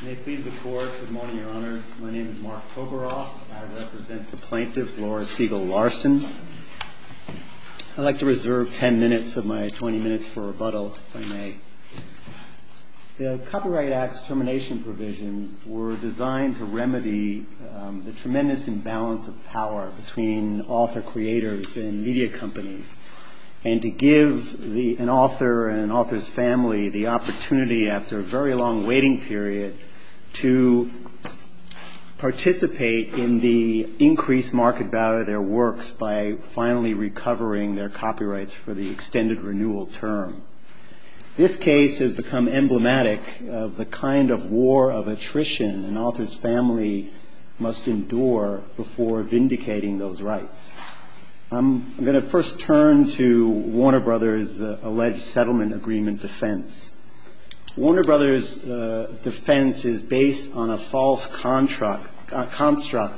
Good morning, Your Honors. My name is Mark Tovaroff. I represent the plaintiff Laura Siegel Larson. I'd like to reserve 10 minutes of my 20 minutes for rebuttal, if I may. The Copyright Act's termination provisions were designed to remedy the tremendous imbalance of power between author-creators and media companies, and to give an author and an author's family the opportunity, after a very long waiting period, to participate in the increased market value of their works by finally recovering their copyrights for the extended renewal term. This case has become emblematic of the kind of war of attrition an author's family must endure before vindicating those rights. I'm going to first turn to Warner Bros. alleged settlement agreement defense. Warner Bros. defense is based on a false construct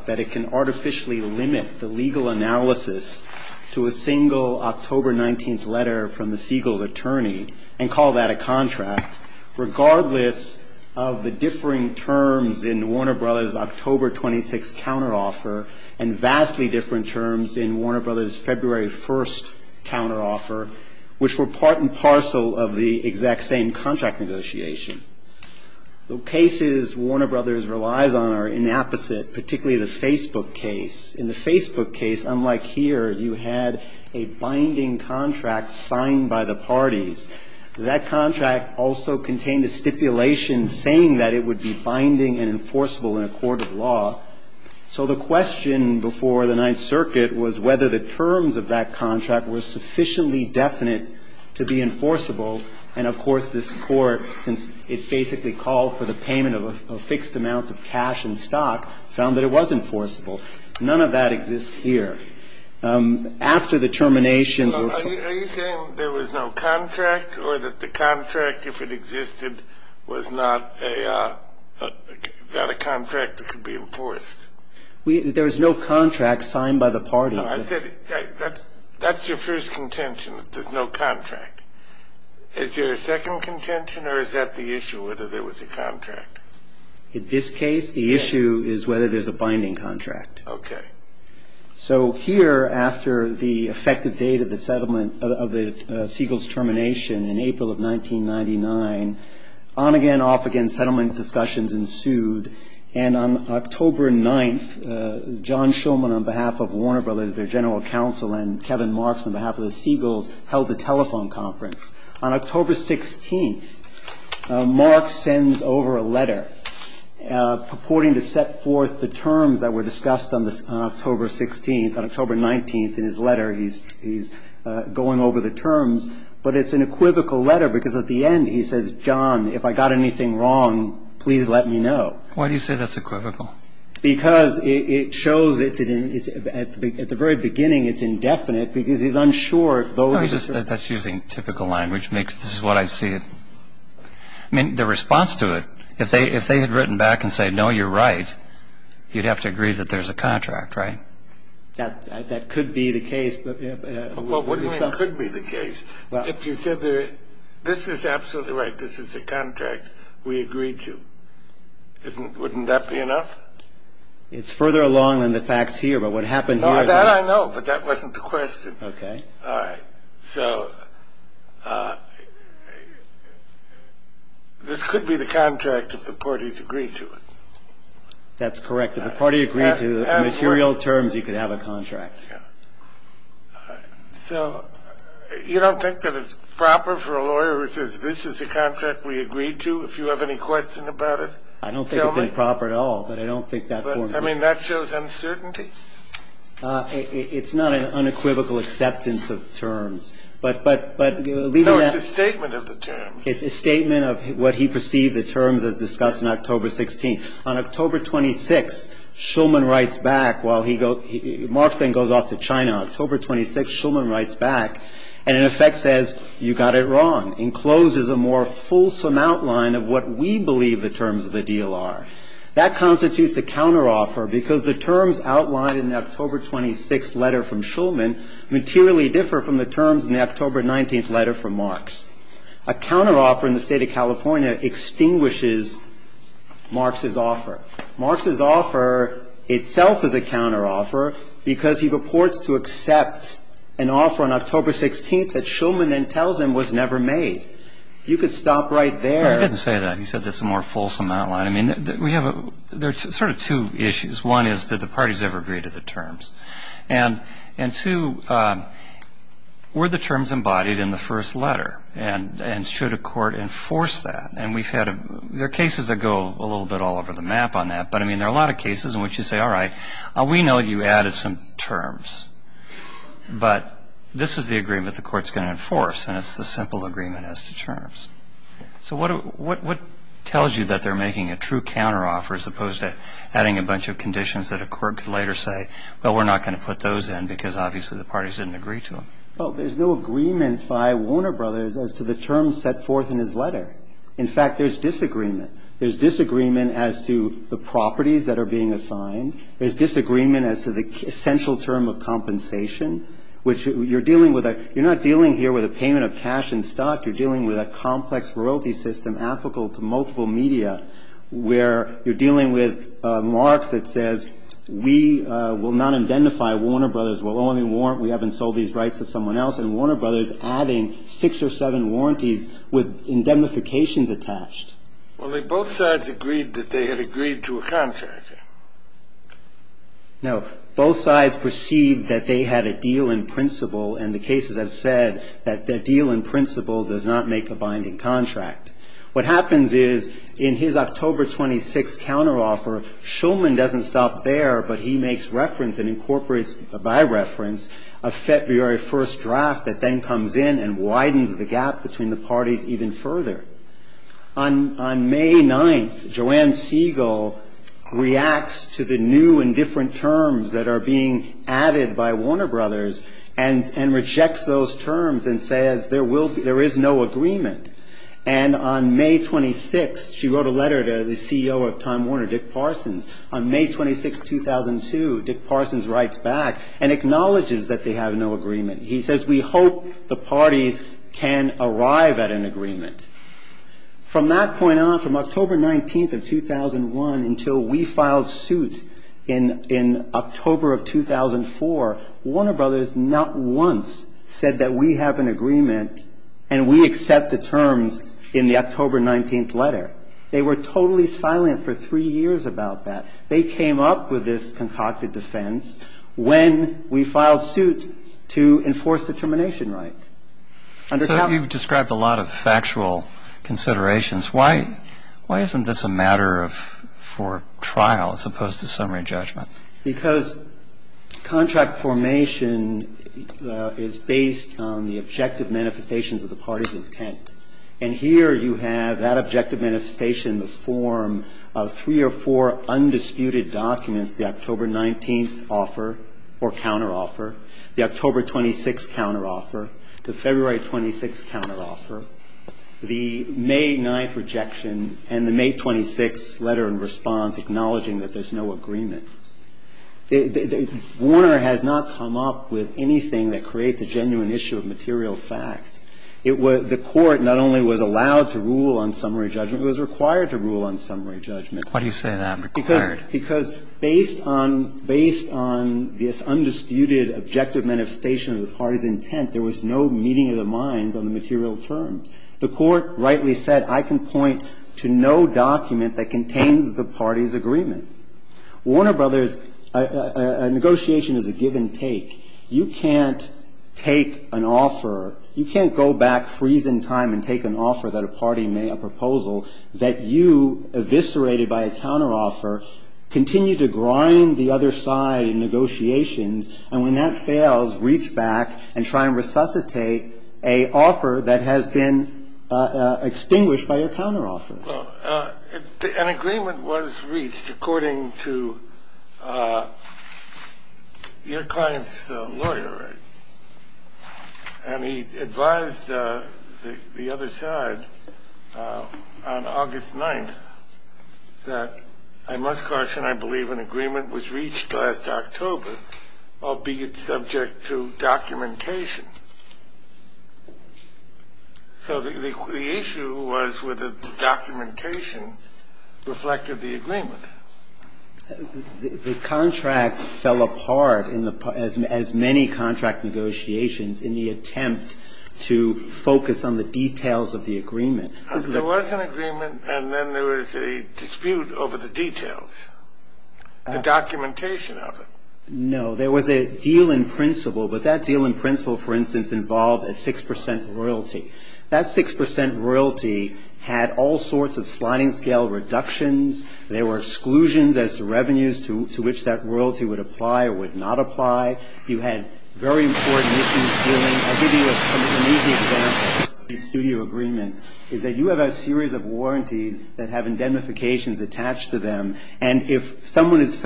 that it can artificially limit the legal analysis to a single October 19th letter from the Siegel's attorney, and call that a contract, regardless of the differing terms in Warner Bros. October 26th counteroffer, and vastly different terms in Warner Bros. February 1st counteroffer, which were part and parcel of the exact same contract negotiation. The cases Warner Bros. relies on are inapposite, particularly the Facebook case. In the Facebook case, unlike here, you had a binding contract signed by the parties. That contract also contained a stipulation saying that it would be binding and enforceable in a court of law. So the question before the Ninth Circuit was whether the terms of that contract were sufficiently definite to be enforceable. And, of course, this court, since it basically called for the payment of fixed amounts of cash and stock, found that it was enforceable. None of that exists here. After the terminations or something else. Are you saying there was no contract or that the contract, if it existed, was not a – got a contract that could be enforced? There was no contract signed by the party. No, I said that's your first contention, that there's no contract. Is there a second contention or is that the issue, whether there was a contract? In this case, the issue is whether there's a binding contract. Okay. So here, after the effective date of the settlement of the Segal's termination in April of 1999, on-again, off-again settlement discussions ensued. And on October 9th, John Shulman, on behalf of Warner Brothers, their general counsel, and Kevin Marks, on behalf of the Segal's, held a telephone conference. On October 16th, Marks sends over a letter purporting to set forth the terms that were discussed on October 16th. On October 19th, in his letter, he's going over the terms. But it's an equivocal letter because at the end he says, John, if I got anything wrong, please let me know. Why do you say that's equivocal? Because it shows at the very beginning it's indefinite because he's unsure if those are the terms. That's using typical line, which makes this what I see. I mean, the response to it, if they had written back and said, no, you're right, you'd have to agree that there's a contract, right? That could be the case. Well, what do you mean could be the case? If you said this is absolutely right, this is a contract, we agree to. Wouldn't that be enough? It's further along than the facts here, but what happened here is that. No, that I know, but that wasn't the question. Okay. All right. So this could be the contract if the parties agreed to it. That's correct. If the party agreed to the material terms, you could have a contract. Yeah. So you don't think that it's proper for a lawyer who says this is a contract we agreed to, if you have any question about it? I don't think it's improper at all, but I don't think that forms it. I mean, that shows uncertainty? It's not an unequivocal acceptance of terms, but leaving that. No, it's a statement of the terms. It's a statement of what he perceived the terms as discussed in October 16th. On October 26th, Shulman writes back while he goes, Marx then goes off to China. On October 26th, Shulman writes back and in effect says, you got it wrong, and closes a more fulsome outline of what we believe the terms of the deal are. That constitutes a counteroffer because the terms outlined in the October 26th letter from Shulman materially differ from the terms in the October 19th letter from Marx. A counteroffer in the State of California extinguishes Marx's offer. Marx's offer itself is a counteroffer because he reports to accept an offer on October 16th that Shulman then tells him was never made. You could stop right there. I didn't say that. He said that's a more fulsome outline. I mean, we have a – there are sort of two issues. One is, did the parties ever agree to the terms? And two, were the terms embodied in the first letter? And should a court enforce that? And we've had – there are cases that go a little bit all over the map on that, but, I mean, there are a lot of cases in which you say, all right, we know you added some terms, but this is the agreement the court's going to enforce, and it's the simple agreement as to terms. So what tells you that they're making a true counteroffer as opposed to adding a bunch of conditions that a court could later say, well, we're not going to put those in because obviously the parties didn't agree to them? Well, there's no agreement by Warner Brothers as to the terms set forth in his letter. In fact, there's disagreement. There's disagreement as to the properties that are being assigned. There's disagreement as to the essential term of compensation, which you're dealing with a – you're not dealing here with a payment of cash and stock. You're dealing with a complex royalty system applicable to multiple media where you're dealing with marks that says we will not identify Warner Brothers, we'll only warrant we haven't sold these rights to someone else, and Warner Brothers adding six or seven warranties with indemnifications attached. Well, they both sides agreed that they had agreed to a contract. No. Both sides perceived that they had a deal in principle, and the cases have said that the deal in principle does not make a binding contract. What happens is in his October 26th counteroffer, Shulman doesn't stop there, but he makes reference and incorporates by reference a February 1st draft that then comes in and widens the gap between the parties even further. On May 9th, Joanne Siegel reacts to the new and different terms that are being added by Warner Brothers and rejects those terms and says there is no agreement. And on May 26th, she wrote a letter to the CEO of Time Warner, Dick Parsons. On May 26th, 2002, Dick Parsons writes back and acknowledges that they have no agreement. He says we hope the parties can arrive at an agreement. From that point on, from October 19th of 2001 until we filed suit in October of 2004, Warner Brothers not once said that we have an agreement and we accept the terms in the October 19th letter. They were totally silent for three years about that. They came up with this concocted defense when we filed suit to enforce the termination right. So you've described a lot of factual considerations. Why isn't this a matter for trial as opposed to summary judgment? Because contract formation is based on the objective manifestations of the party's intent. And here you have that objective manifestation in the form of three or four undisputed documents, the October 19th offer or counteroffer, the October 26th counteroffer, the February 26th counteroffer, the May 9th rejection and the May 26th letter in response to acknowledging that there's no agreement. Warner has not come up with anything that creates a genuine issue of material fact. It was the Court not only was allowed to rule on summary judgment, it was required to rule on summary judgment. Why do you say that, required? Because based on, based on this undisputed objective manifestation of the party's intent, there was no meeting of the minds on the material terms. The Court rightly said, I can point to no document that contains the party's agreement. Warner Brothers, a negotiation is a give and take. You can't take an offer, you can't go back, freeze in time, and take an offer that a party made, a proposal, that you, eviscerated by a counteroffer, continue to grind the other side in negotiations, and when that fails, reach back and try and resuscitate a offer that has been extinguished by a counteroffer. Well, an agreement was reached according to your client's lawyer, and he advised the other side on August 9th that, I must caution, I believe an agreement was reached last October, albeit subject to documentation. So the issue was whether the documentation reflected the agreement. The contract fell apart, as many contract negotiations, in the attempt to focus on the details of the agreement. There was an agreement, and then there was a dispute over the details, the documentation of it. No, there was a deal in principle, but that deal in principle, for instance, involved a 6% royalty. That 6% royalty had all sorts of sliding scale reductions. There were exclusions as to revenues to which that royalty would apply or would not apply. You had very important issues dealing. I'll give you an easy example of these studio agreements, is that you have a series of warranties that have indemnifications attached to them, and if someone has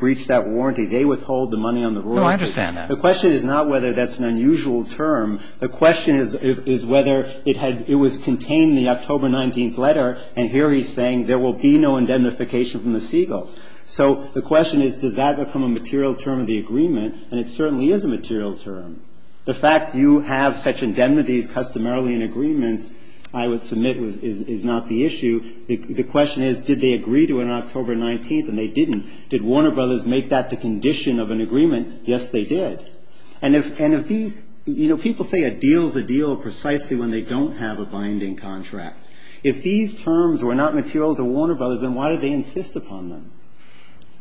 breached that warranty, they withhold the money on the royalty. No, I understand that. The question is not whether that's an unusual term. The question is whether it was contained in the October 19th letter, and here he's saying there will be no indemnification from the Seagulls. So the question is, does that become a material term of the agreement? And it certainly is a material term. The fact you have such indemnities customarily in agreements, I would submit, is not the issue. The question is, did they agree to it on October 19th, and they didn't. Did Warner Brothers make that the condition of an agreement? Yes, they did. And if these ñ you know, people say a deal's a deal precisely when they don't have a binding contract. If these terms were not material to Warner Brothers, then why did they insist upon them?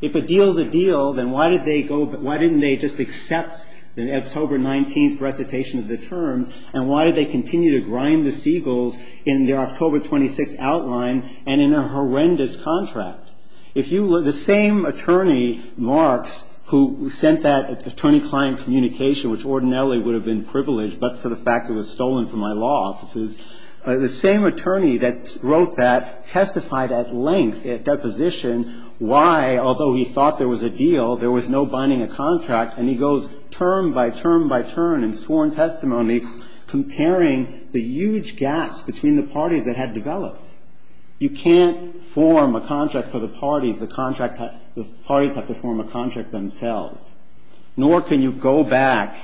If a deal's a deal, then why did they go ñ why didn't they just accept the October 19th recitation of the terms, and why did they continue to grind the Seagulls in their October 26th outline and in a horrendous contract? If you ñ the same attorney, Marks, who sent that attorney-client communication which ordinarily would have been privileged but for the fact it was stolen from my law offices, the same attorney that wrote that testified at length at deposition why, although he thought there was a deal, there was no binding of contract, and he goes term by term by term in sworn testimony comparing the huge gaps between the parties that had developed. You can't form a contract for the parties. The parties have to form a contract themselves. Nor can you go back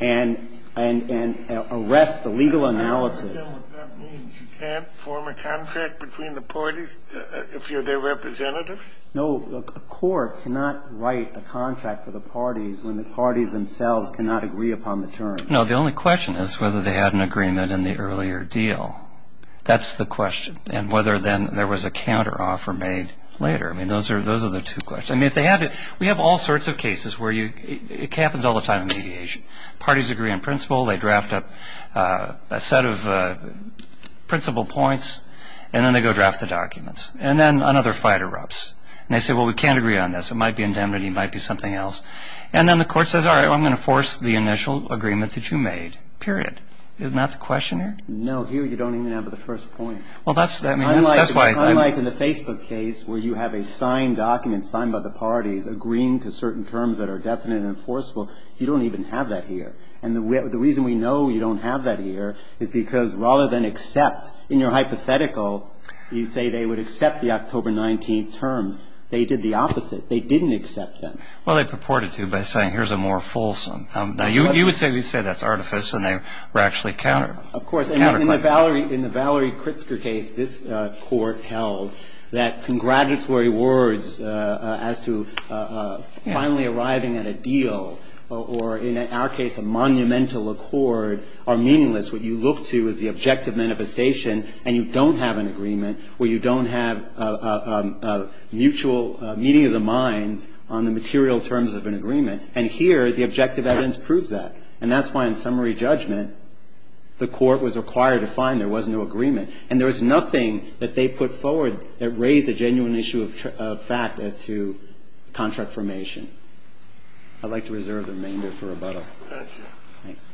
and arrest the legal analysis. I understand what that means. You can't form a contract between the parties if you're their representative? No. A court cannot write a contract for the parties when the parties themselves cannot agree upon the terms. No. The only question is whether they had an agreement in the earlier deal. That's the question. And whether then there was a counteroffer made later. I mean, those are the two questions. We have all sorts of cases where you ñ it happens all the time in mediation. Parties agree on principle. They draft up a set of principle points, and then they go draft the documents. And then another fight erupts. And they say, well, we can't agree on this. It might be indemnity. It might be something else. And then the court says, all right, well, I'm going to force the initial agreement that you made, period. Isn't that the question here? No. Here you don't even have the first point. Well, that's ñ I mean, that's why ñ Unlike in the Facebook case where you have a signed document, signed by the parties, agreeing to certain terms that are definite and enforceable. You don't even have that here. And the reason we know you don't have that here is because rather than accept, in your hypothetical, you say they would accept the October 19th terms. They did the opposite. They didn't accept them. Well, they purported to by saying, here's a more fulsome. Now, you would say that's artifice, and they were actually counterclaiming. Of course, in the Valerie ñ in the Valerie Kritzker case, this Court held that congratulatory words as to finally arriving at a deal or, in our case, a monumental accord are meaningless. What you look to is the objective manifestation, and you don't have an agreement where you don't have a mutual meeting of the minds on the material terms of an agreement. And here, the objective evidence proves that. And that's why in summary judgment, the Court was required to find there was no agreement. And there was nothing that they put forward that raised a genuine issue of fact as to contract formation. I'd like to reserve the remainder for rebuttal. Thanks.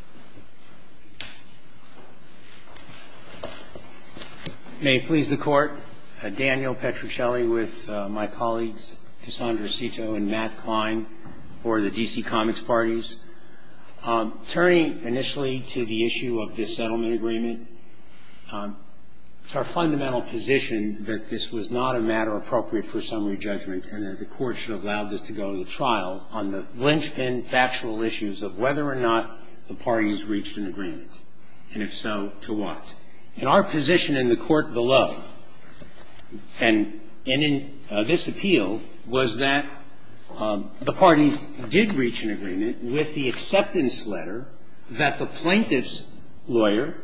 May it please the Court. Daniel Petruccelli with my colleagues Cassandra Cito and Matt Klein for the D.C. Comics Parties. Turning initially to the issue of this settlement agreement, it's our fundamental position that this was not a matter appropriate for summary judgment and that the Court should have allowed this to go to the trial on the linchpin factual issues of whether or not the parties reached an agreement, and if so, to what. And our position in the court below and in this appeal was that the parties did reach an agreement with the acceptance letter that the plaintiff's lawyer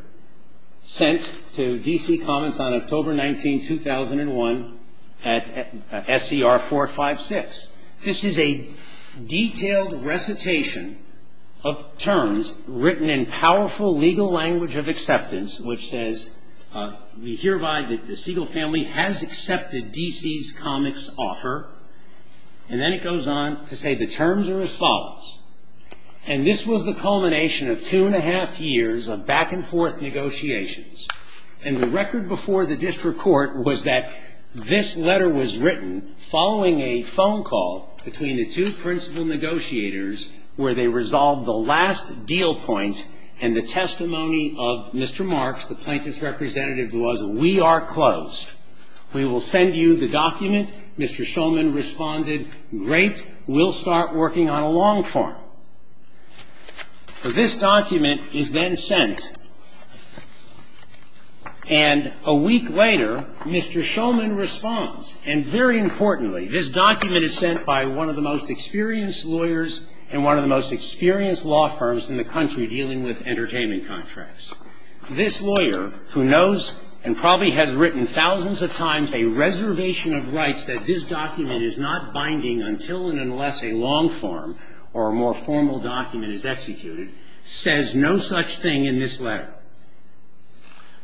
sent to D.C. Comics on October 19, 2001, at S.E.R. 456. This is a detailed recitation of terms written in powerful legal language of acceptance which says, we hereby, the Segal family has accepted D.C.'s Comics offer. And then it goes on to say the terms are as follows. And this was the culmination of two and a half years of back and forth negotiations. And the record before the district court was that this letter was written following a phone call between the two principal negotiators where they resolved the last deal point and the testimony of Mr. Marks, the plaintiff's representative, who was, we are closed. We will send you the document. Mr. Shulman responded, great, we'll start working on a long form. This document is then sent. And a week later, Mr. Shulman responds, and very importantly, this document is sent by one of the most experienced lawyers and one of the most experienced law firms in the country dealing with entertainment contracts. This lawyer, who knows and probably has written thousands of times a reservation of rights that this document is not binding until and unless a long form or a more formal document is executed, says no such thing in this letter.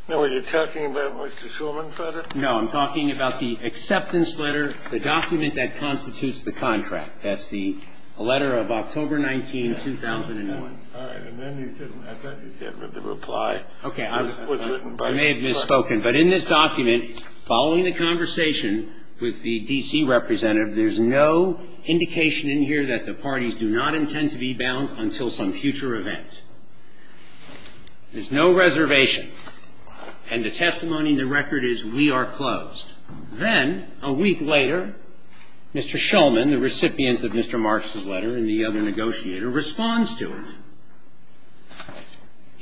Now, are you talking about Mr. Shulman's letter? No, I'm talking about the acceptance letter, the document that constitutes the contract. That's the letter of October 19, 2001. All right. And then he said, I thought he said that the reply was written by the plaintiff. Okay. I may have misspoken. But in this document, following the conversation with the D.C. representative, there's no indication in here that the parties do not intend to be bound until some future event. There's no reservation. And the testimony in the record is we are closed. Then a week later, Mr. Shulman, the recipient of Mr. Marks' letter and the other negotiator, responds to it.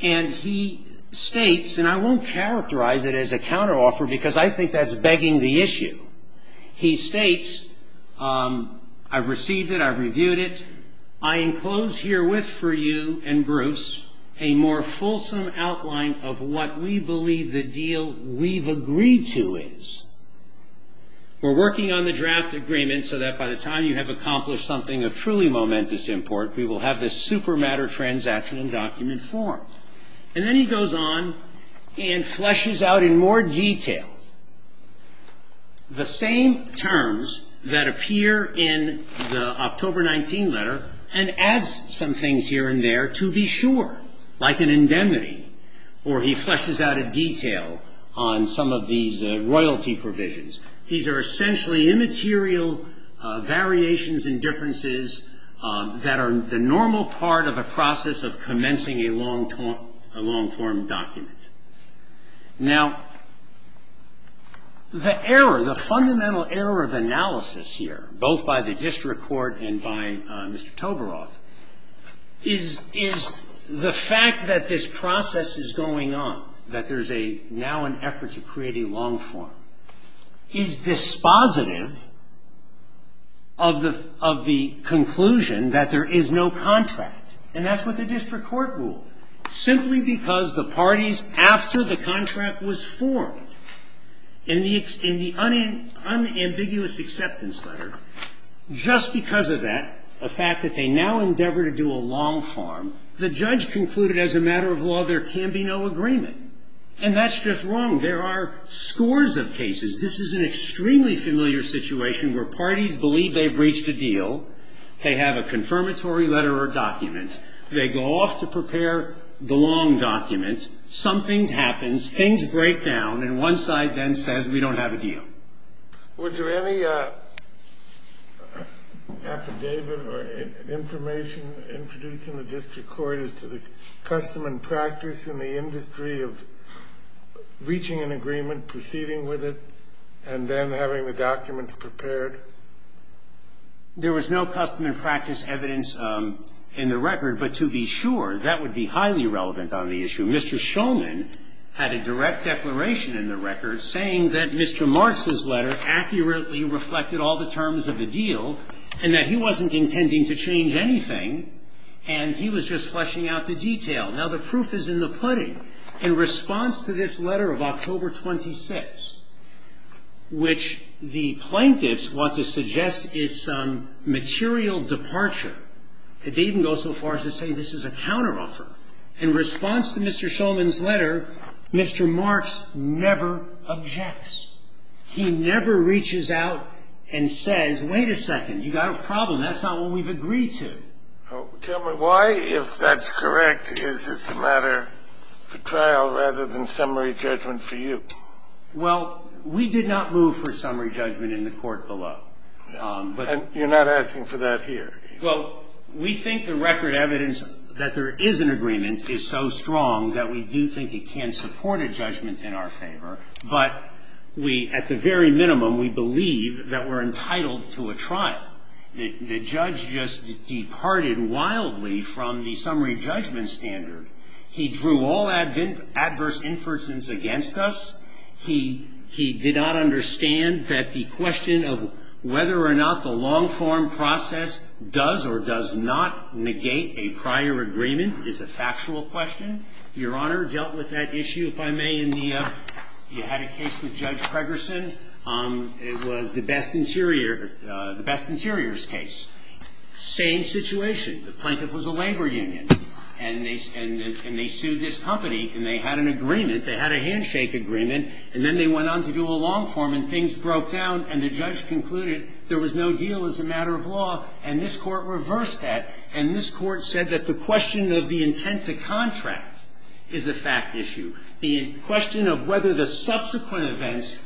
And he states, and I won't characterize it as a counteroffer because I think that's begging the issue. He states, I've received it. I've reviewed it. I enclose herewith for you and Bruce a more fulsome outline of what we believe the deal we've agreed to is. And then he goes on and fleshes out in more detail the same terms that appear in the October 19 letter and adds some things here and there to be sure, like an indemnity, or he fleshes out a detail on some of these royalty provisions. These are essentially immaterial variations and differences that are the normal part of a process of commencing a long-form document. Now, the error, the fundamental error of analysis here, both by the district court and by Mr. Toberoff, is the fact that this process is going on, that there's now an effort to create a long form. It's dispositive of the conclusion that there is no contract. And that's what the district court ruled. Simply because the parties, after the contract was formed, in the unambiguous acceptance letter, just because of that, the fact that they now endeavor to do a long form, the judge concluded as a matter of law there can be no agreement. And that's just wrong. There are scores of cases. This is an extremely familiar situation where parties believe they've reached a deal. They have a confirmatory letter or document. They go off to prepare the long document. Something happens. Things break down. And one side then says we don't have a deal. Was there any affidavit or information introduced in the district court as to the custom and practice in the industry of reaching an agreement, proceeding with it, and then having the document prepared? There was no custom and practice evidence in the record. But to be sure, that would be highly relevant on the issue. Mr. Shulman had a direct declaration in the record saying that Mr. Martz's letter accurately reflected all the terms of the deal and that he wasn't intending to change anything, and he was just fleshing out the detail. Now, the proof is in the pudding. In response to this letter of October 26th, which the plaintiffs want to suggest is some material departure, they even go so far as to say this is a counteroffer. In response to Mr. Shulman's letter, Mr. Martz never objects. He never reaches out and says, wait a second, you've got a problem. That's not one we've agreed to. Tell me, why, if that's correct, is this a matter for trial rather than summary judgment for you? Well, we did not move for summary judgment in the court below. And you're not asking for that here? Well, we think the record evidence that there is an agreement is so strong that we do think it can support a judgment in our favor. But we, at the very minimum, we believe that we're entitled to a trial. The judge just departed wildly from the summary judgment standard. He drew all adverse inferences against us. He did not understand that the question of whether or not the long-form process does or does not negate a prior agreement is a factual question. Your Honor dealt with that issue, if I may, in the you had a case with Judge McIntyre. The plaintiff was a labor union, and they sued this company, and they had an agreement. They had a handshake agreement, and then they went on to do a long form, and things broke down, and the judge concluded there was no deal as a matter of law. And this Court reversed that, and this Court said that the question of the intent to contract is a fact issue. The question of whether the subsequent events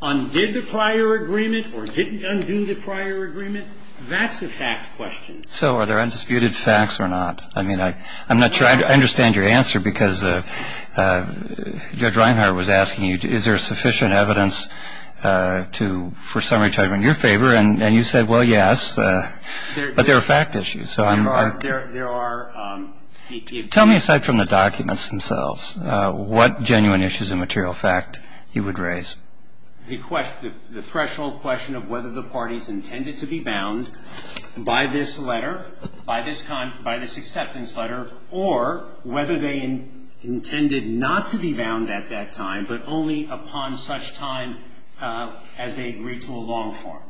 undid the prior agreement or didn't undo the prior agreement, that's a fact question. So are there undisputed facts or not? I mean, I'm not sure I understand your answer, because Judge Reinhart was asking you, is there sufficient evidence to for summary judgment in your favor? And you said, well, yes, but there are fact issues. So I'm not sure. There are. Tell me, aside from the documents themselves, what genuine issues of material fact you would raise. The threshold question of whether the parties intended to be bound by this letter, by this acceptance letter, or whether they intended not to be bound at that time, but only upon such time as they agreed to a long form.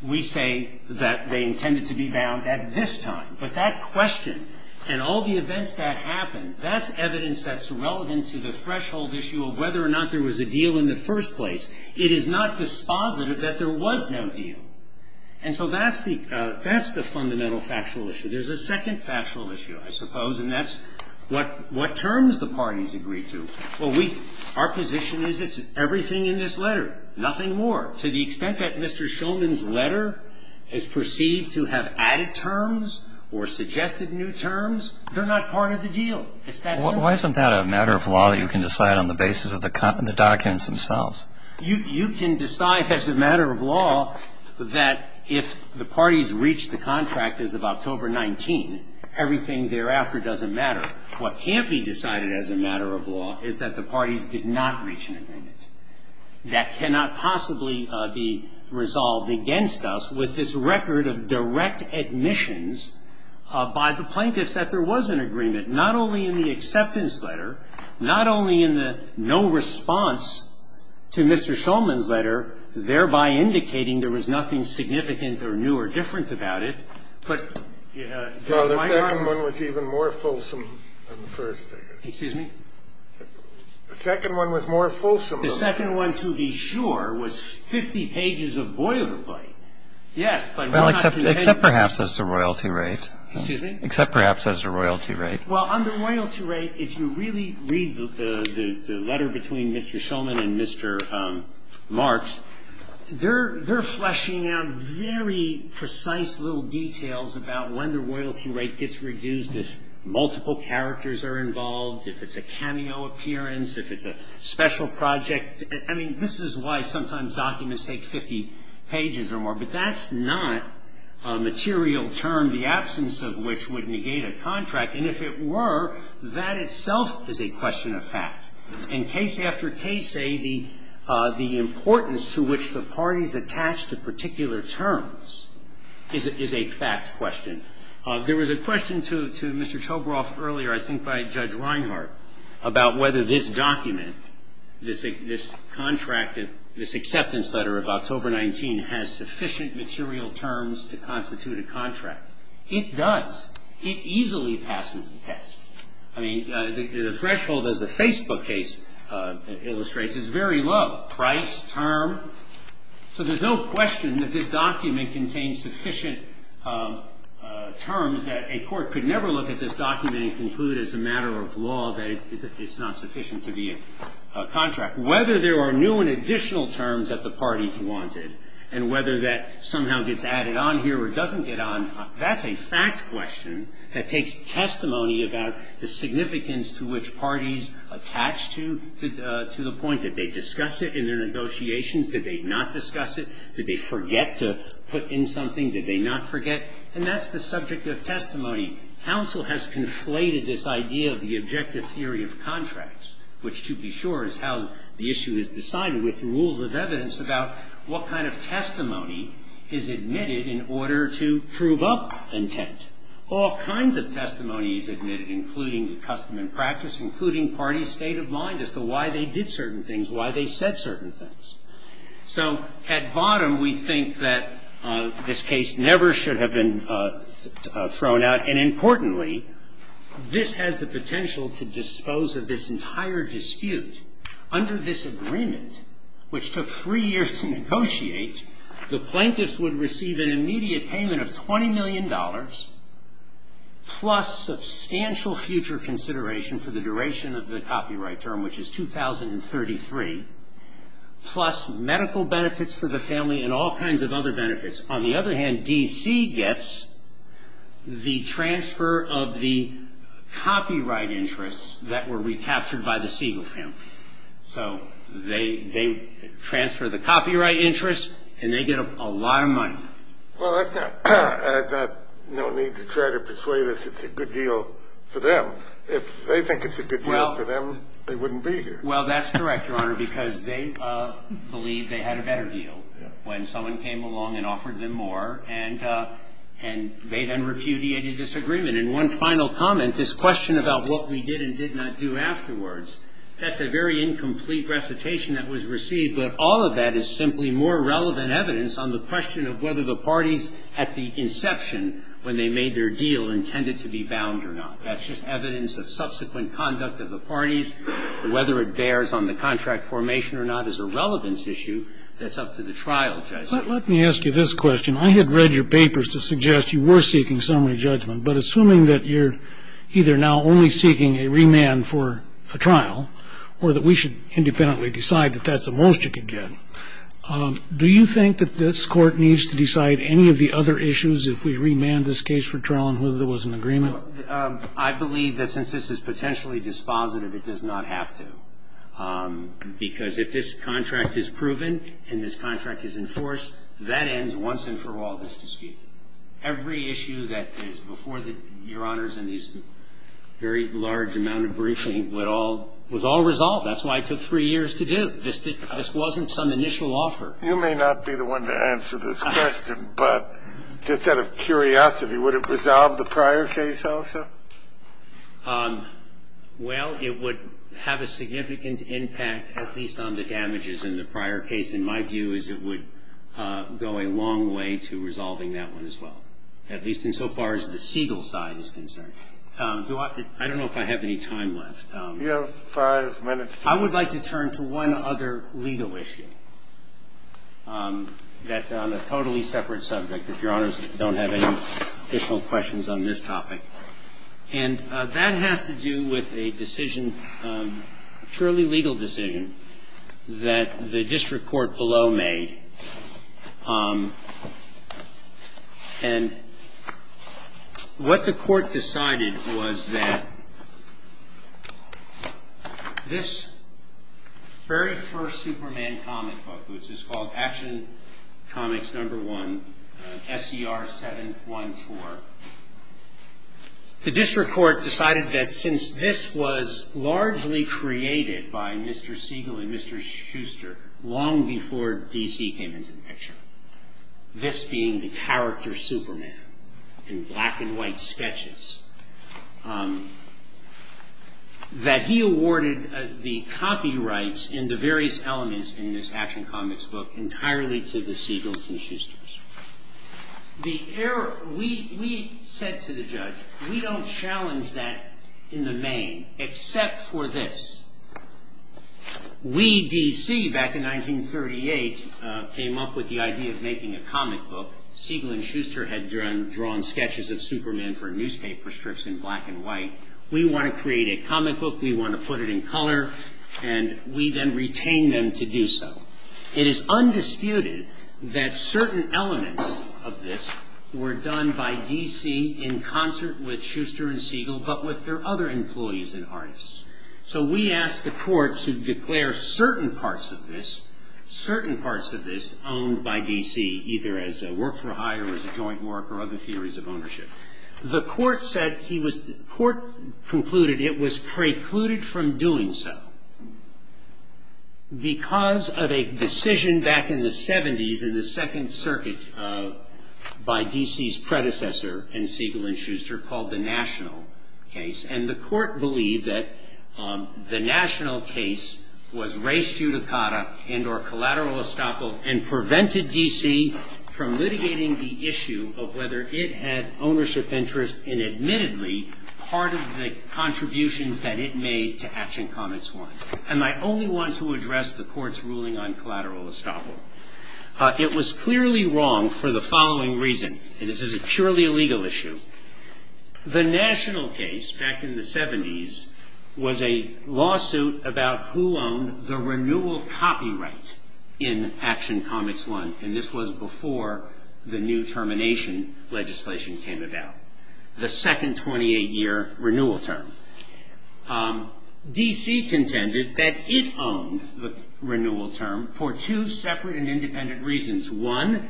We say that they intended to be bound at this time, but that question and all the events that happened, that's evidence that's relevant to the threshold issue of whether or not there was a deal in the first place. It is not dispositive that there was no deal. And so that's the fundamental factual issue. There's a second factual issue, I suppose, and that's what terms the parties agreed to. Well, our position is it's everything in this letter, nothing more. To the extent that Mr. Shulman's letter is perceived to have added terms or suggested new terms, they're not part of the deal. Why isn't that a matter of law that you can decide on the basis of the documents themselves? You can decide as a matter of law that if the parties reach the contract as of October 19, everything thereafter doesn't matter. What can't be decided as a matter of law is that the parties did not reach an agreement. That cannot possibly be resolved against us with this record of direct admissions by the plaintiffs that there was an agreement, not only in the acceptance letter, not only in the no response to Mr. Shulman's letter, thereby indicating there was nothing significant or new or different about it, but there might not have been. The second one was even more fulsome than the first, I guess. Excuse me? The second one was more fulsome than the first. The second one, to be sure, was 50 pages of boilerplate. Yes, but we're not going to take that. Well, except perhaps as the royalty rate. Excuse me? Except perhaps as the royalty rate. Well, on the royalty rate, if you really read the letter between Mr. Shulman and Mr. Marks, they're fleshing out very precise little details about when the royalty rate gets reduced, if multiple characters are involved, if it's a cameo appearance, if it's a special project. I mean, this is why sometimes documents take 50 pages or more. But that's not a material term, the absence of which would negate a contract. And if it were, that itself is a question of fact. And case after case, the importance to which the parties attach to particular terms is a fact question. There was a question to Mr. Toberoff earlier, I think by Judge Reinhart, about whether this document, this contract, this acceptance letter of October 19 has sufficient material terms to constitute a contract. It does. It easily passes the test. I mean, the threshold, as the Facebook case illustrates, is very low, price, term. So there's no question that this document contains sufficient terms that a court could never look at this document and conclude as a matter of law that it's not sufficient to be a contract. Whether there are new and additional terms that the parties wanted and whether that somehow gets added on here or doesn't get on, that's a fact question that takes testimony about the significance to which parties attach to the point that they discuss it in their negotiations. Did they not discuss it? Did they forget to put in something? Did they not forget? And that's the subject of testimony. Counsel has conflated this idea of the objective theory of contracts, which to be sure is how the issue is decided, with rules of evidence about what kind of testimony is admitted in order to prove up intent. All kinds of testimony is admitted, including the custom and practice, including parties' state of mind as to why they did certain things, why they said certain things. So at bottom, we think that this case never should have been thrown out. And importantly, this has the potential to dispose of this entire dispute. Under this agreement, which took three years to negotiate, the plaintiffs would receive an immediate payment of $20 million plus substantial future consideration for the duration of the copyright term, which is 2033, plus medical benefits for the family and all kinds of other benefits. On the other hand, D.C. gets the transfer of the copyright interests that were recaptured by the Siegel family. So they transfer the copyright interests, and they get a lot of money. Well, that's not no need to try to persuade us it's a good deal for them. If they think it's a good deal for them, they wouldn't be here. Well, that's correct, Your Honor, because they believe they had a better deal when someone came along and offered them more, and they then repudiated this agreement. And one final comment, this question about what we did and did not do afterwards, that's a very incomplete recitation that was received, but all of that is simply more relevant evidence on the question of whether the parties at the inception when they made their deal intended to be bound or not. That's just evidence of subsequent conduct of the parties. Whether it bears on the contract formation or not is a relevance issue that's up to the trial judge. But let me ask you this question. I had read your papers to suggest you were seeking summary judgment, but assuming that you're either now only seeking a remand for a trial or that we should independently decide that that's the most you can get, do you think that this Court needs to decide any of the other issues if we remand this case for trial and whether there was an agreement? I believe that since this is potentially dispositive, it does not have to, because if this contract is proven and this contract is enforced, that ends once and for all this dispute. Every issue that is before Your Honors in these very large amount of briefings was all resolved. That's why it took three years to do. This wasn't some initial offer. You may not be the one to answer this question, but just out of curiosity, would it resolve the prior case also? Well, it would have a significant impact, at least on the damages in the prior case. And my view is it would go a long way to resolving that one as well, at least insofar as the Siegel side is concerned. I don't know if I have any time left. You have five minutes. I would like to turn to one other legal issue that's on a totally separate subject, if Your Honors don't have any additional questions on this topic. And that has to do with a decision, a purely legal decision, that the district court below made. And what the court decided was that this very first Superman comic book, which is called Action Comics Number One, S.E.R. 714, the district court decided that since this was largely created by Mr. Siegel and Mr. Schuster long before D.C. came into the picture, this being the character Superman in black and white sketches, that he awarded the copyrights and the various elements in this Action Comics book entirely to the Siegels and Schusters. We said to the judge, we don't challenge that in the main, except for this. We, D.C., back in 1938, came up with the idea of making a comic book. Siegel and Schuster had drawn sketches of Superman for newspaper strips in black and white. We want to create a comic book. We want to put it in color. And we then retained them to do so. It is undisputed that certain elements of this were done by D.C. in concert with Schuster and Siegel, but with their other employees and artists. So we asked the court to declare certain parts of this, certain parts of this, owned by D.C., either as a work-for-hire or as a joint work or other theories of ownership. The court concluded it was precluded from doing so because of a decision back in the 70s in the Second Circuit by D.C.'s predecessor and Siegel and Schuster called the National Case. And the court believed that the National Case was res judicata and or collateral estoppel and prevented D.C. from litigating the issue of whether it had ownership interest in admittedly part of the contributions that it made to Action Comics 1. And I only want to address the court's ruling on collateral estoppel. It was clearly wrong for the following reason, and this is a purely legal issue. The National Case back in the 70s was a lawsuit about who owned the renewal copyright in Action Comics 1, and this was before the new termination legislation came about, the second 28-year renewal term. D.C. contended that it owned the renewal term for two separate and independent reasons. One,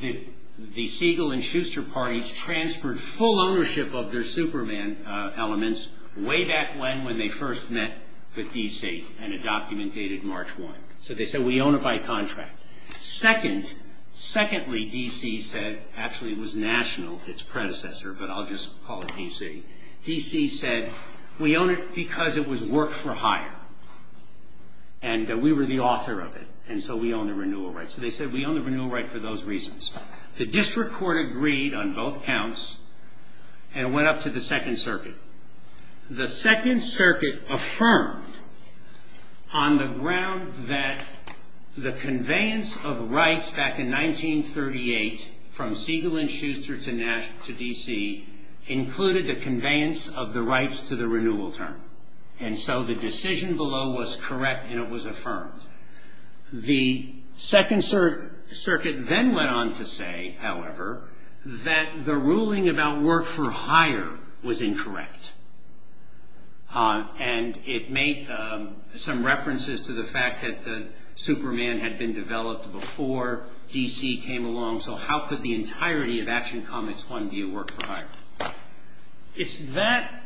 the Siegel and Schuster parties transferred full ownership of their Superman elements way back when when they first met with D.C. and a document dated March 1. So they said we own it by contract. Secondly, D.C. said, actually it was National, its predecessor, but I'll just call it D.C. D.C. said we own it because it was work for hire and that we were the author of it and so we own the renewal rights. So they said we own the renewal right for those reasons. The district court agreed on both counts and went up to the Second Circuit. The Second Circuit affirmed on the ground that the conveyance of rights back in 1938 from Siegel and Schuster to D.C. included the conveyance of the rights to the renewal term. And so the decision below was correct and it was affirmed. The Second Circuit then went on to say, however, that the ruling about work for hire was incorrect. And it made some references to the fact that the Superman had been developed before D.C. came along. So how could the entirety of Action Comments 1 be a work for hire? It's that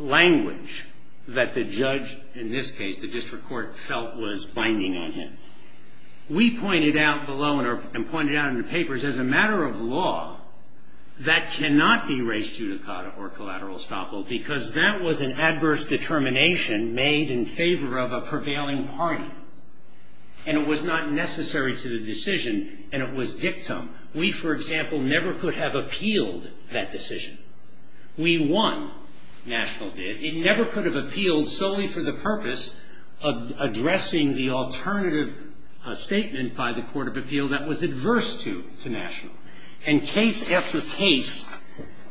language that the judge, in this case the district court, felt was binding on him. We pointed out below and pointed out in the papers, as a matter of law, that cannot be res judicata or collateral estoppel because that was an adverse determination made in favor of a prevailing party and it was not necessary to the decision and it was dictum. We, for example, never could have appealed that decision. We won. National did. It never could have appealed solely for the purpose of addressing the alternative statement by the Court of Appeal that was adverse to National. And case after case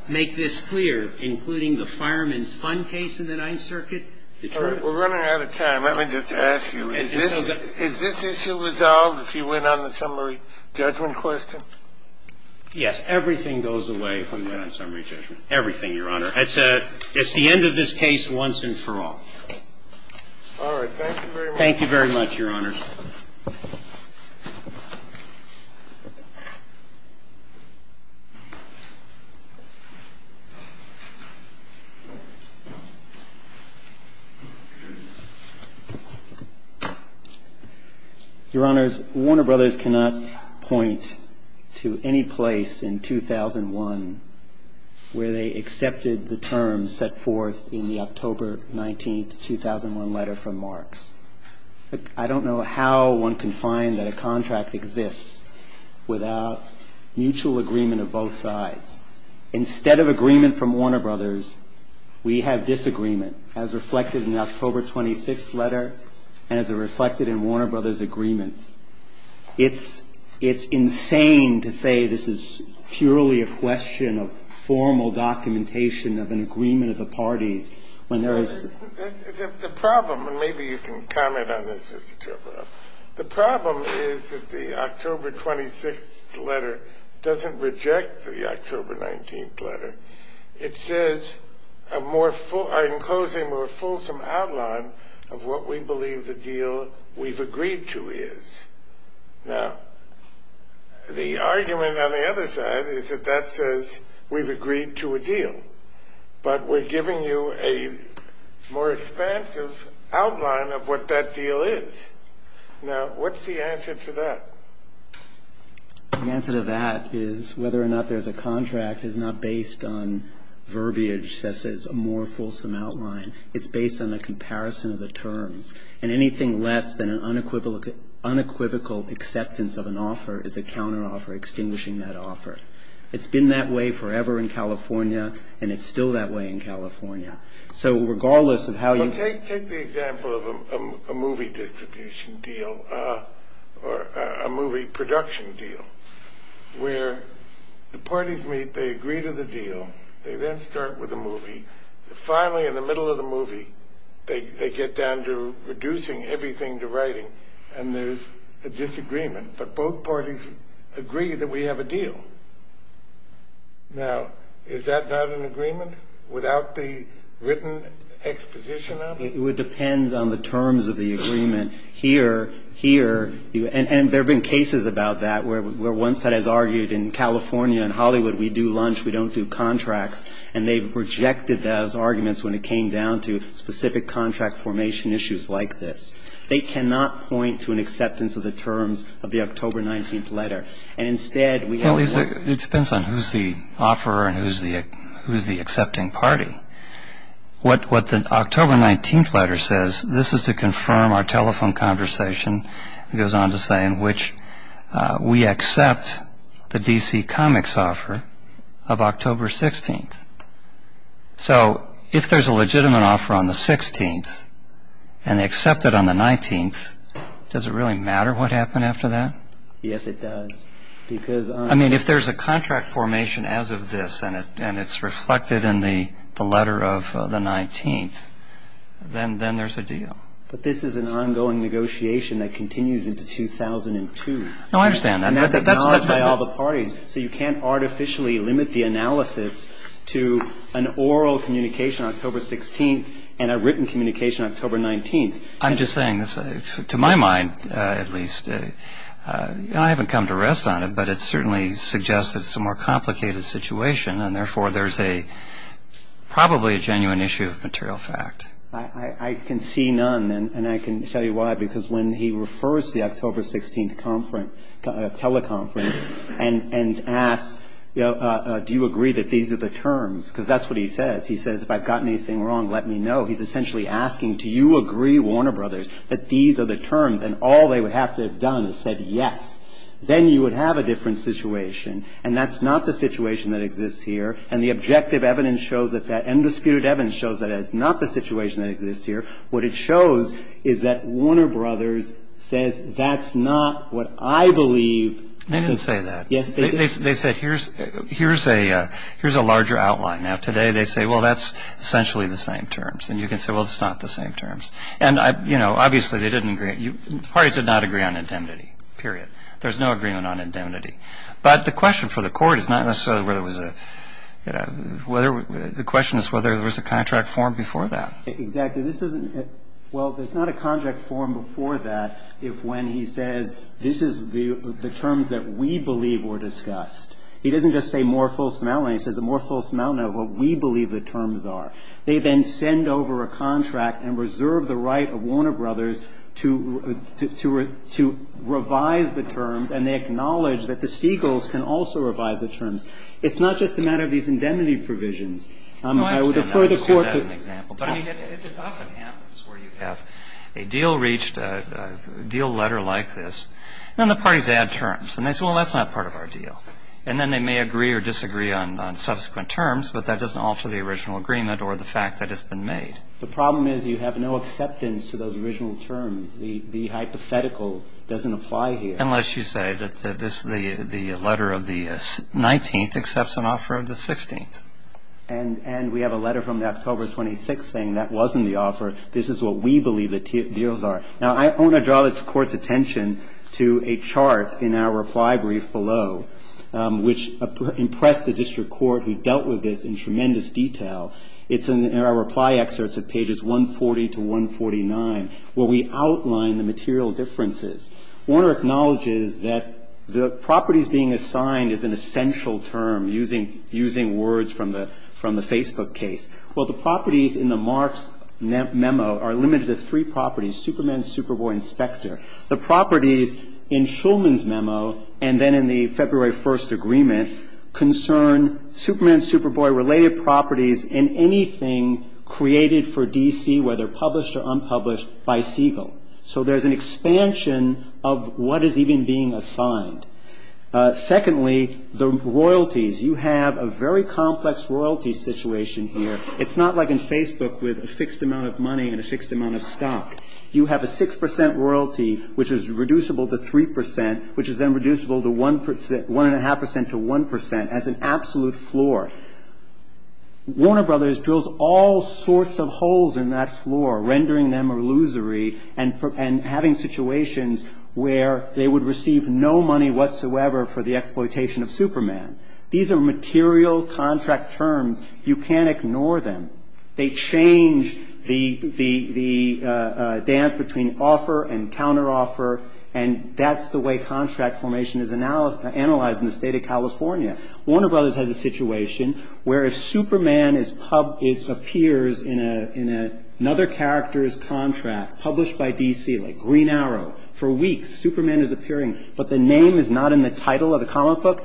make this clear, including the Fireman's Fund case in the Ninth Circuit. It's true. I'm running out of time. Let me just ask you, is this issue resolved if you win on the summary judgment question? Yes. Everything goes away when you win on summary judgment. Everything, Your Honor. It's the end of this case once and for all. All right. Thank you very much. Thank you very much, Your Honors. Your Honors, Warner Brothers cannot point to any place in 2001 where they accepted the terms set forth in the October 19, 2001, letter from Marks. I don't know how one can find that a contract exists without mutual agreement of both sides. Instead of agreement from Warner Brothers, we have disagreement, as reflected in the October 26th letter and as reflected in Warner Brothers' agreement. It's insane to say this is purely a question of formal documentation of an agreement of the parties when there is the problem. And maybe you can comment on this, Mr. Turov. The problem is that the October 26th letter doesn't reject the October 19th letter. It says, in closing, a more fulsome outline of what we believe the deal we've agreed to is. Now, the argument on the other side is that that says we've agreed to a deal, but we're giving you a more expansive outline of what that deal is. Now, what's the answer to that? The answer to that is whether or not there's a contract is not based on verbiage that says a more fulsome outline. It's based on a comparison of the terms. And anything less than an unequivocal acceptance of an offer is a counteroffer, extinguishing that offer. It's been that way forever in California, and it's still that way in California. So regardless of how you... Take the example of a movie distribution deal or a movie production deal where the parties meet, they agree to the deal, they then start with a movie. Finally, in the middle of the movie, they get down to reducing everything to writing, and there's a disagreement. Now, is that not an agreement without the written exposition of it? It would depend on the terms of the agreement. Here, and there have been cases about that where one side has argued in California and Hollywood we do lunch, we don't do contracts, and they've rejected those arguments when it came down to specific contract formation issues like this. They cannot point to an acceptance of the terms of the October 19th letter. It depends on who's the offeror and who's the accepting party. What the October 19th letter says, this is to confirm our telephone conversation, it goes on to say in which we accept the DC Comics offer of October 16th. So if there's a legitimate offer on the 16th and they accept it on the 19th, does it really matter what happened after that? Yes, it does. I mean, if there's a contract formation as of this and it's reflected in the letter of the 19th, then there's a deal. But this is an ongoing negotiation that continues into 2002. No, I understand that. And that's acknowledged by all the parties. So you can't artificially limit the analysis to an oral communication on October 16th and a written communication on October 19th. I'm just saying, to my mind at least, I haven't come to rest on it, but it certainly suggests that it's a more complicated situation and therefore there's probably a genuine issue of material fact. I can see none, and I can tell you why, because when he refers to the October 16th teleconference and asks, do you agree that these are the terms, because that's what he says. He says, if I've gotten anything wrong, let me know. He's essentially asking, do you agree, Warner Brothers, that these are the terms, and all they would have to have done is said yes. Then you would have a different situation, and that's not the situation that exists here, and the objective evidence shows that that undisputed evidence shows that that's not the situation that exists here. What it shows is that Warner Brothers says that's not what I believe. They didn't say that. Yes, they did. They said, here's a larger outline. Now, today they say, well, that's essentially the same terms. And you can say, well, it's not the same terms. And, you know, obviously they didn't agree. The parties did not agree on indemnity, period. There's no agreement on indemnity. But the question for the Court is not necessarily whether it was a – the question is whether there was a contract formed before that. Exactly. This isn't – well, there's not a contract formed before that if when he says this is the terms that we believe were discussed. He doesn't just say more full semantics. He says a more full semantics of what we believe the terms are. They then send over a contract and reserve the right of Warner Brothers to revise the terms, and they acknowledge that the Seagulls can also revise the terms. It's not just a matter of these indemnity provisions. I would refer the Court to the – No, I understand that. I'll just give that an example. But, I mean, it often happens where you have a deal reached, a deal letter like this, and then the parties add terms. And they say, well, that's not part of our deal. And then they may agree or disagree on subsequent terms, but that doesn't alter the original agreement or the fact that it's been made. The problem is you have no acceptance to those original terms. The hypothetical doesn't apply here. Unless you say that this – the letter of the 19th accepts an offer of the 16th. And we have a letter from October 26th saying that wasn't the offer, this is what we believe the deals are. Now, I want to draw the Court's attention to a chart in our reply brief below, which impressed the district court who dealt with this in tremendous detail. It's in our reply excerpts at pages 140 to 149, where we outline the material differences. Warner acknowledges that the properties being assigned is an essential term, using words from the Facebook case. Well, the properties in the Marks memo are limited to three properties, Superman, Superboy, Inspector. The properties in Shulman's memo and then in the February 1st agreement concern Superman, Superboy-related properties in anything created for D.C., whether published or unpublished, by Siegel. So there's an expansion of what is even being assigned. Secondly, the royalties. You have a very complex royalty situation here. It's not like in Facebook with a fixed amount of money and a fixed amount of stock. You have a 6 percent royalty, which is reducible to 3 percent, which is then reducible to 1 percent – 1.5 percent to 1 percent as an absolute floor. Warner Brothers drills all sorts of holes in that floor, rendering them illusory and having situations where they would receive no money whatsoever for the exploitation of Superman. These are material contract terms. You can't ignore them. They change the dance between offer and counteroffer, and that's the way contract formation is analyzed in the state of California. Warner Brothers has a situation where if Superman appears in another character's contract, published by D.C. like Green Arrow, for weeks Superman is appearing, but the name is not in the title of the comic book,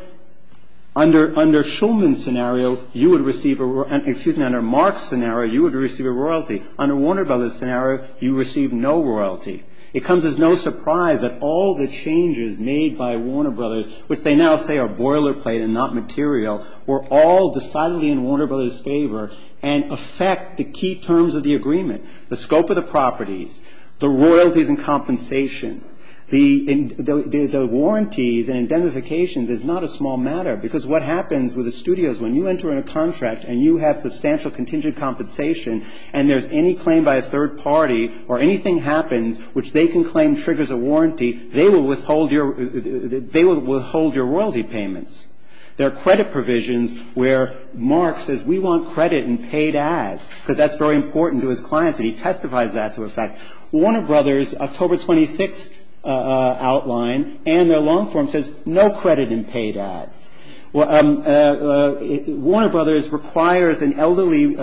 under Shulman's scenario you would receive a – excuse me, under Mark's scenario you would receive a royalty. Under Warner Brothers' scenario you receive no royalty. It comes as no surprise that all the changes made by Warner Brothers, which they now say are boilerplate and not material, were all decidedly in Warner Brothers' favor and affect the key terms of the agreement. The scope of the properties, the royalties and compensation, the warranties and indemnifications is not a small matter, because what happens with the studios when you enter in a contract and you have substantial contingent compensation and there's any claim by a third party or anything happens which they can claim triggers a warranty, they will withhold your – they will withhold your royalty payments. There are credit provisions where Mark says we want credit in paid ads, because that's very important to his clients and he testifies that to a fact. Warner Brothers' October 26th outline and their loan form says no credit in paid ads. Warner Brothers requires an elderly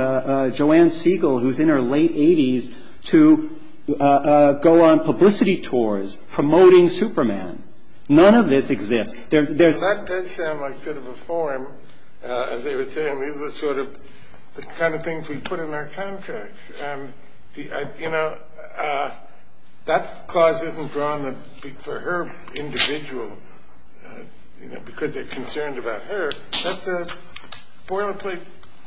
Joanne Siegel, who's in her late 80s, to go on publicity tours promoting Superman. None of this exists. There's – as they were saying, these are the sort of – the kind of things we put in our contracts. And, you know, that clause isn't drawn for her individual, you know, because they're concerned about her. That's a boilerplate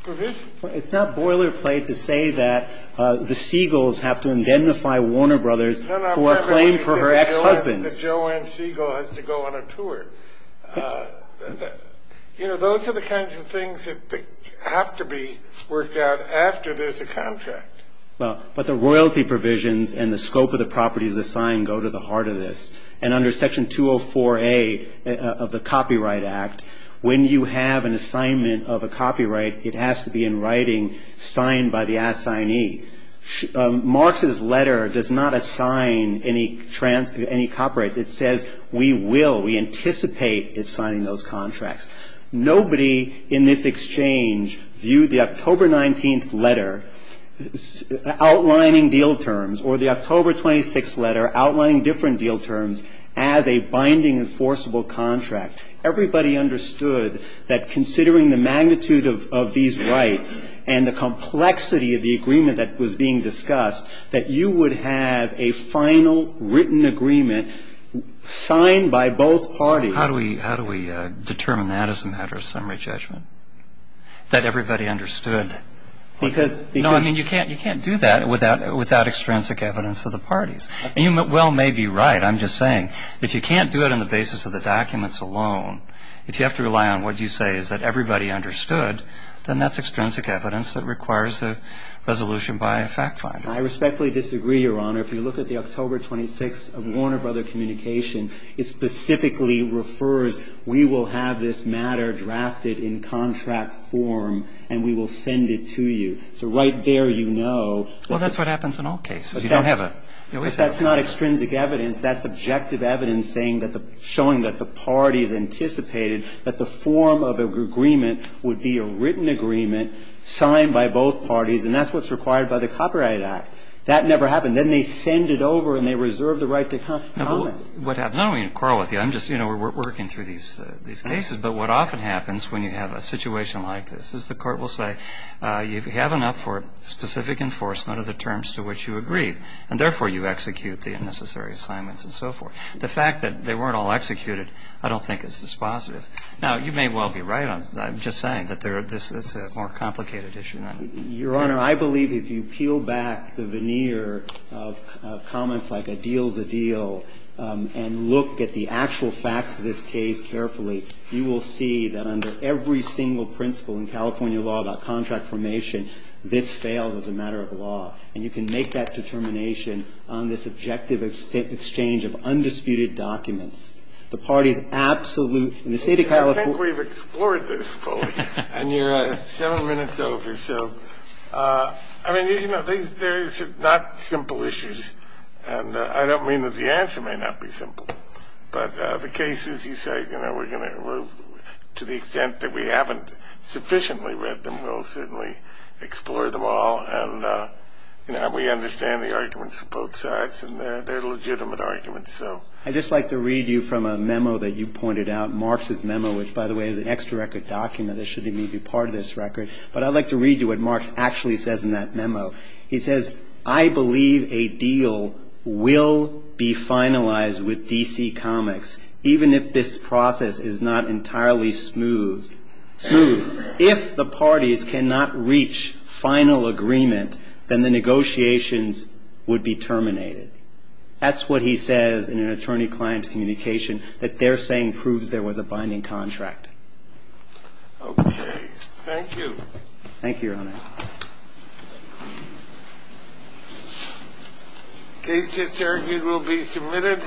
provision. It's not boilerplate to say that the Siegels have to indemnify Warner Brothers for a claim for her ex-husband. And that Joanne Siegel has to go on a tour. You know, those are the kinds of things that have to be worked out after there's a contract. But the royalty provisions and the scope of the properties assigned go to the heart of this. And under Section 204A of the Copyright Act, when you have an assignment of a copyright, it has to be in writing, signed by the assignee. Marx's letter does not assign any copyrights. It says we will, we anticipate signing those contracts. Nobody in this exchange viewed the October 19th letter outlining deal terms or the October 26th letter outlining different deal terms as a binding enforceable contract. Everybody understood that considering the magnitude of these rights and the extent of the rights that are being discussed, that you would have a final written agreement signed by both parties. So how do we determine that as a matter of summary judgment, that everybody understood? Because, because you can't do that without extrinsic evidence of the parties. And you well may be right. I'm just saying if you can't do it on the basis of the documents alone, if you have to rely on what you say is that everybody understood, then that's extrinsic evidence that requires a resolution by a fact finder. I respectfully disagree, Your Honor. If you look at the October 26th of Warner Brothers Communication, it specifically refers we will have this matter drafted in contract form and we will send it to you. So right there you know. Well, that's what happens in all cases. You don't have a. But that's not extrinsic evidence. That's objective evidence saying that the, showing that the parties anticipated that the form of agreement would be a written agreement signed by both parties, and that's what's required by the Copyright Act. That never happened. Then they send it over and they reserve the right to comment. No, but what happens. I don't mean to quarrel with you. I'm just, you know, we're working through these cases. But what often happens when you have a situation like this is the Court will say you have enough for specific enforcement of the terms to which you agreed, and therefore you execute the unnecessary assignments and so forth. The fact that they weren't all executed I don't think is dispositive. Now, you may well be right. I'm just saying that this is a more complicated issue than that. Your Honor, I believe if you peel back the veneer of comments like a deal is a deal and look at the actual facts of this case carefully, you will see that under every single principle in California law about contract formation, this fails as a matter of law. And you can make that determination on this objective exchange of undisputed documents. The parties absolute in the State of California. I think we've explored this fully. And you're seven minutes over. So, I mean, you know, these are not simple issues. And I don't mean that the answer may not be simple. But the cases you say, you know, we're going to, to the extent that we haven't sufficiently read them, we'll certainly explore them all. And, you know, we understand the arguments of both sides. And they're legitimate arguments. So. I'd just like to read you from a memo that you pointed out, Marx's memo, which, by the way, is an extra record document. It shouldn't even be part of this record. But I'd like to read you what Marx actually says in that memo. He says, I believe a deal will be finalized with D.C. Comics, even if this process is not entirely smooth. If the parties cannot reach final agreement, then the negotiations would be terminated. That's what he says in an attorney-client communication that they're saying proves there was a binding contract. Okay. Thank you. Thank you, Your Honor. The case, as argued, will be submitted.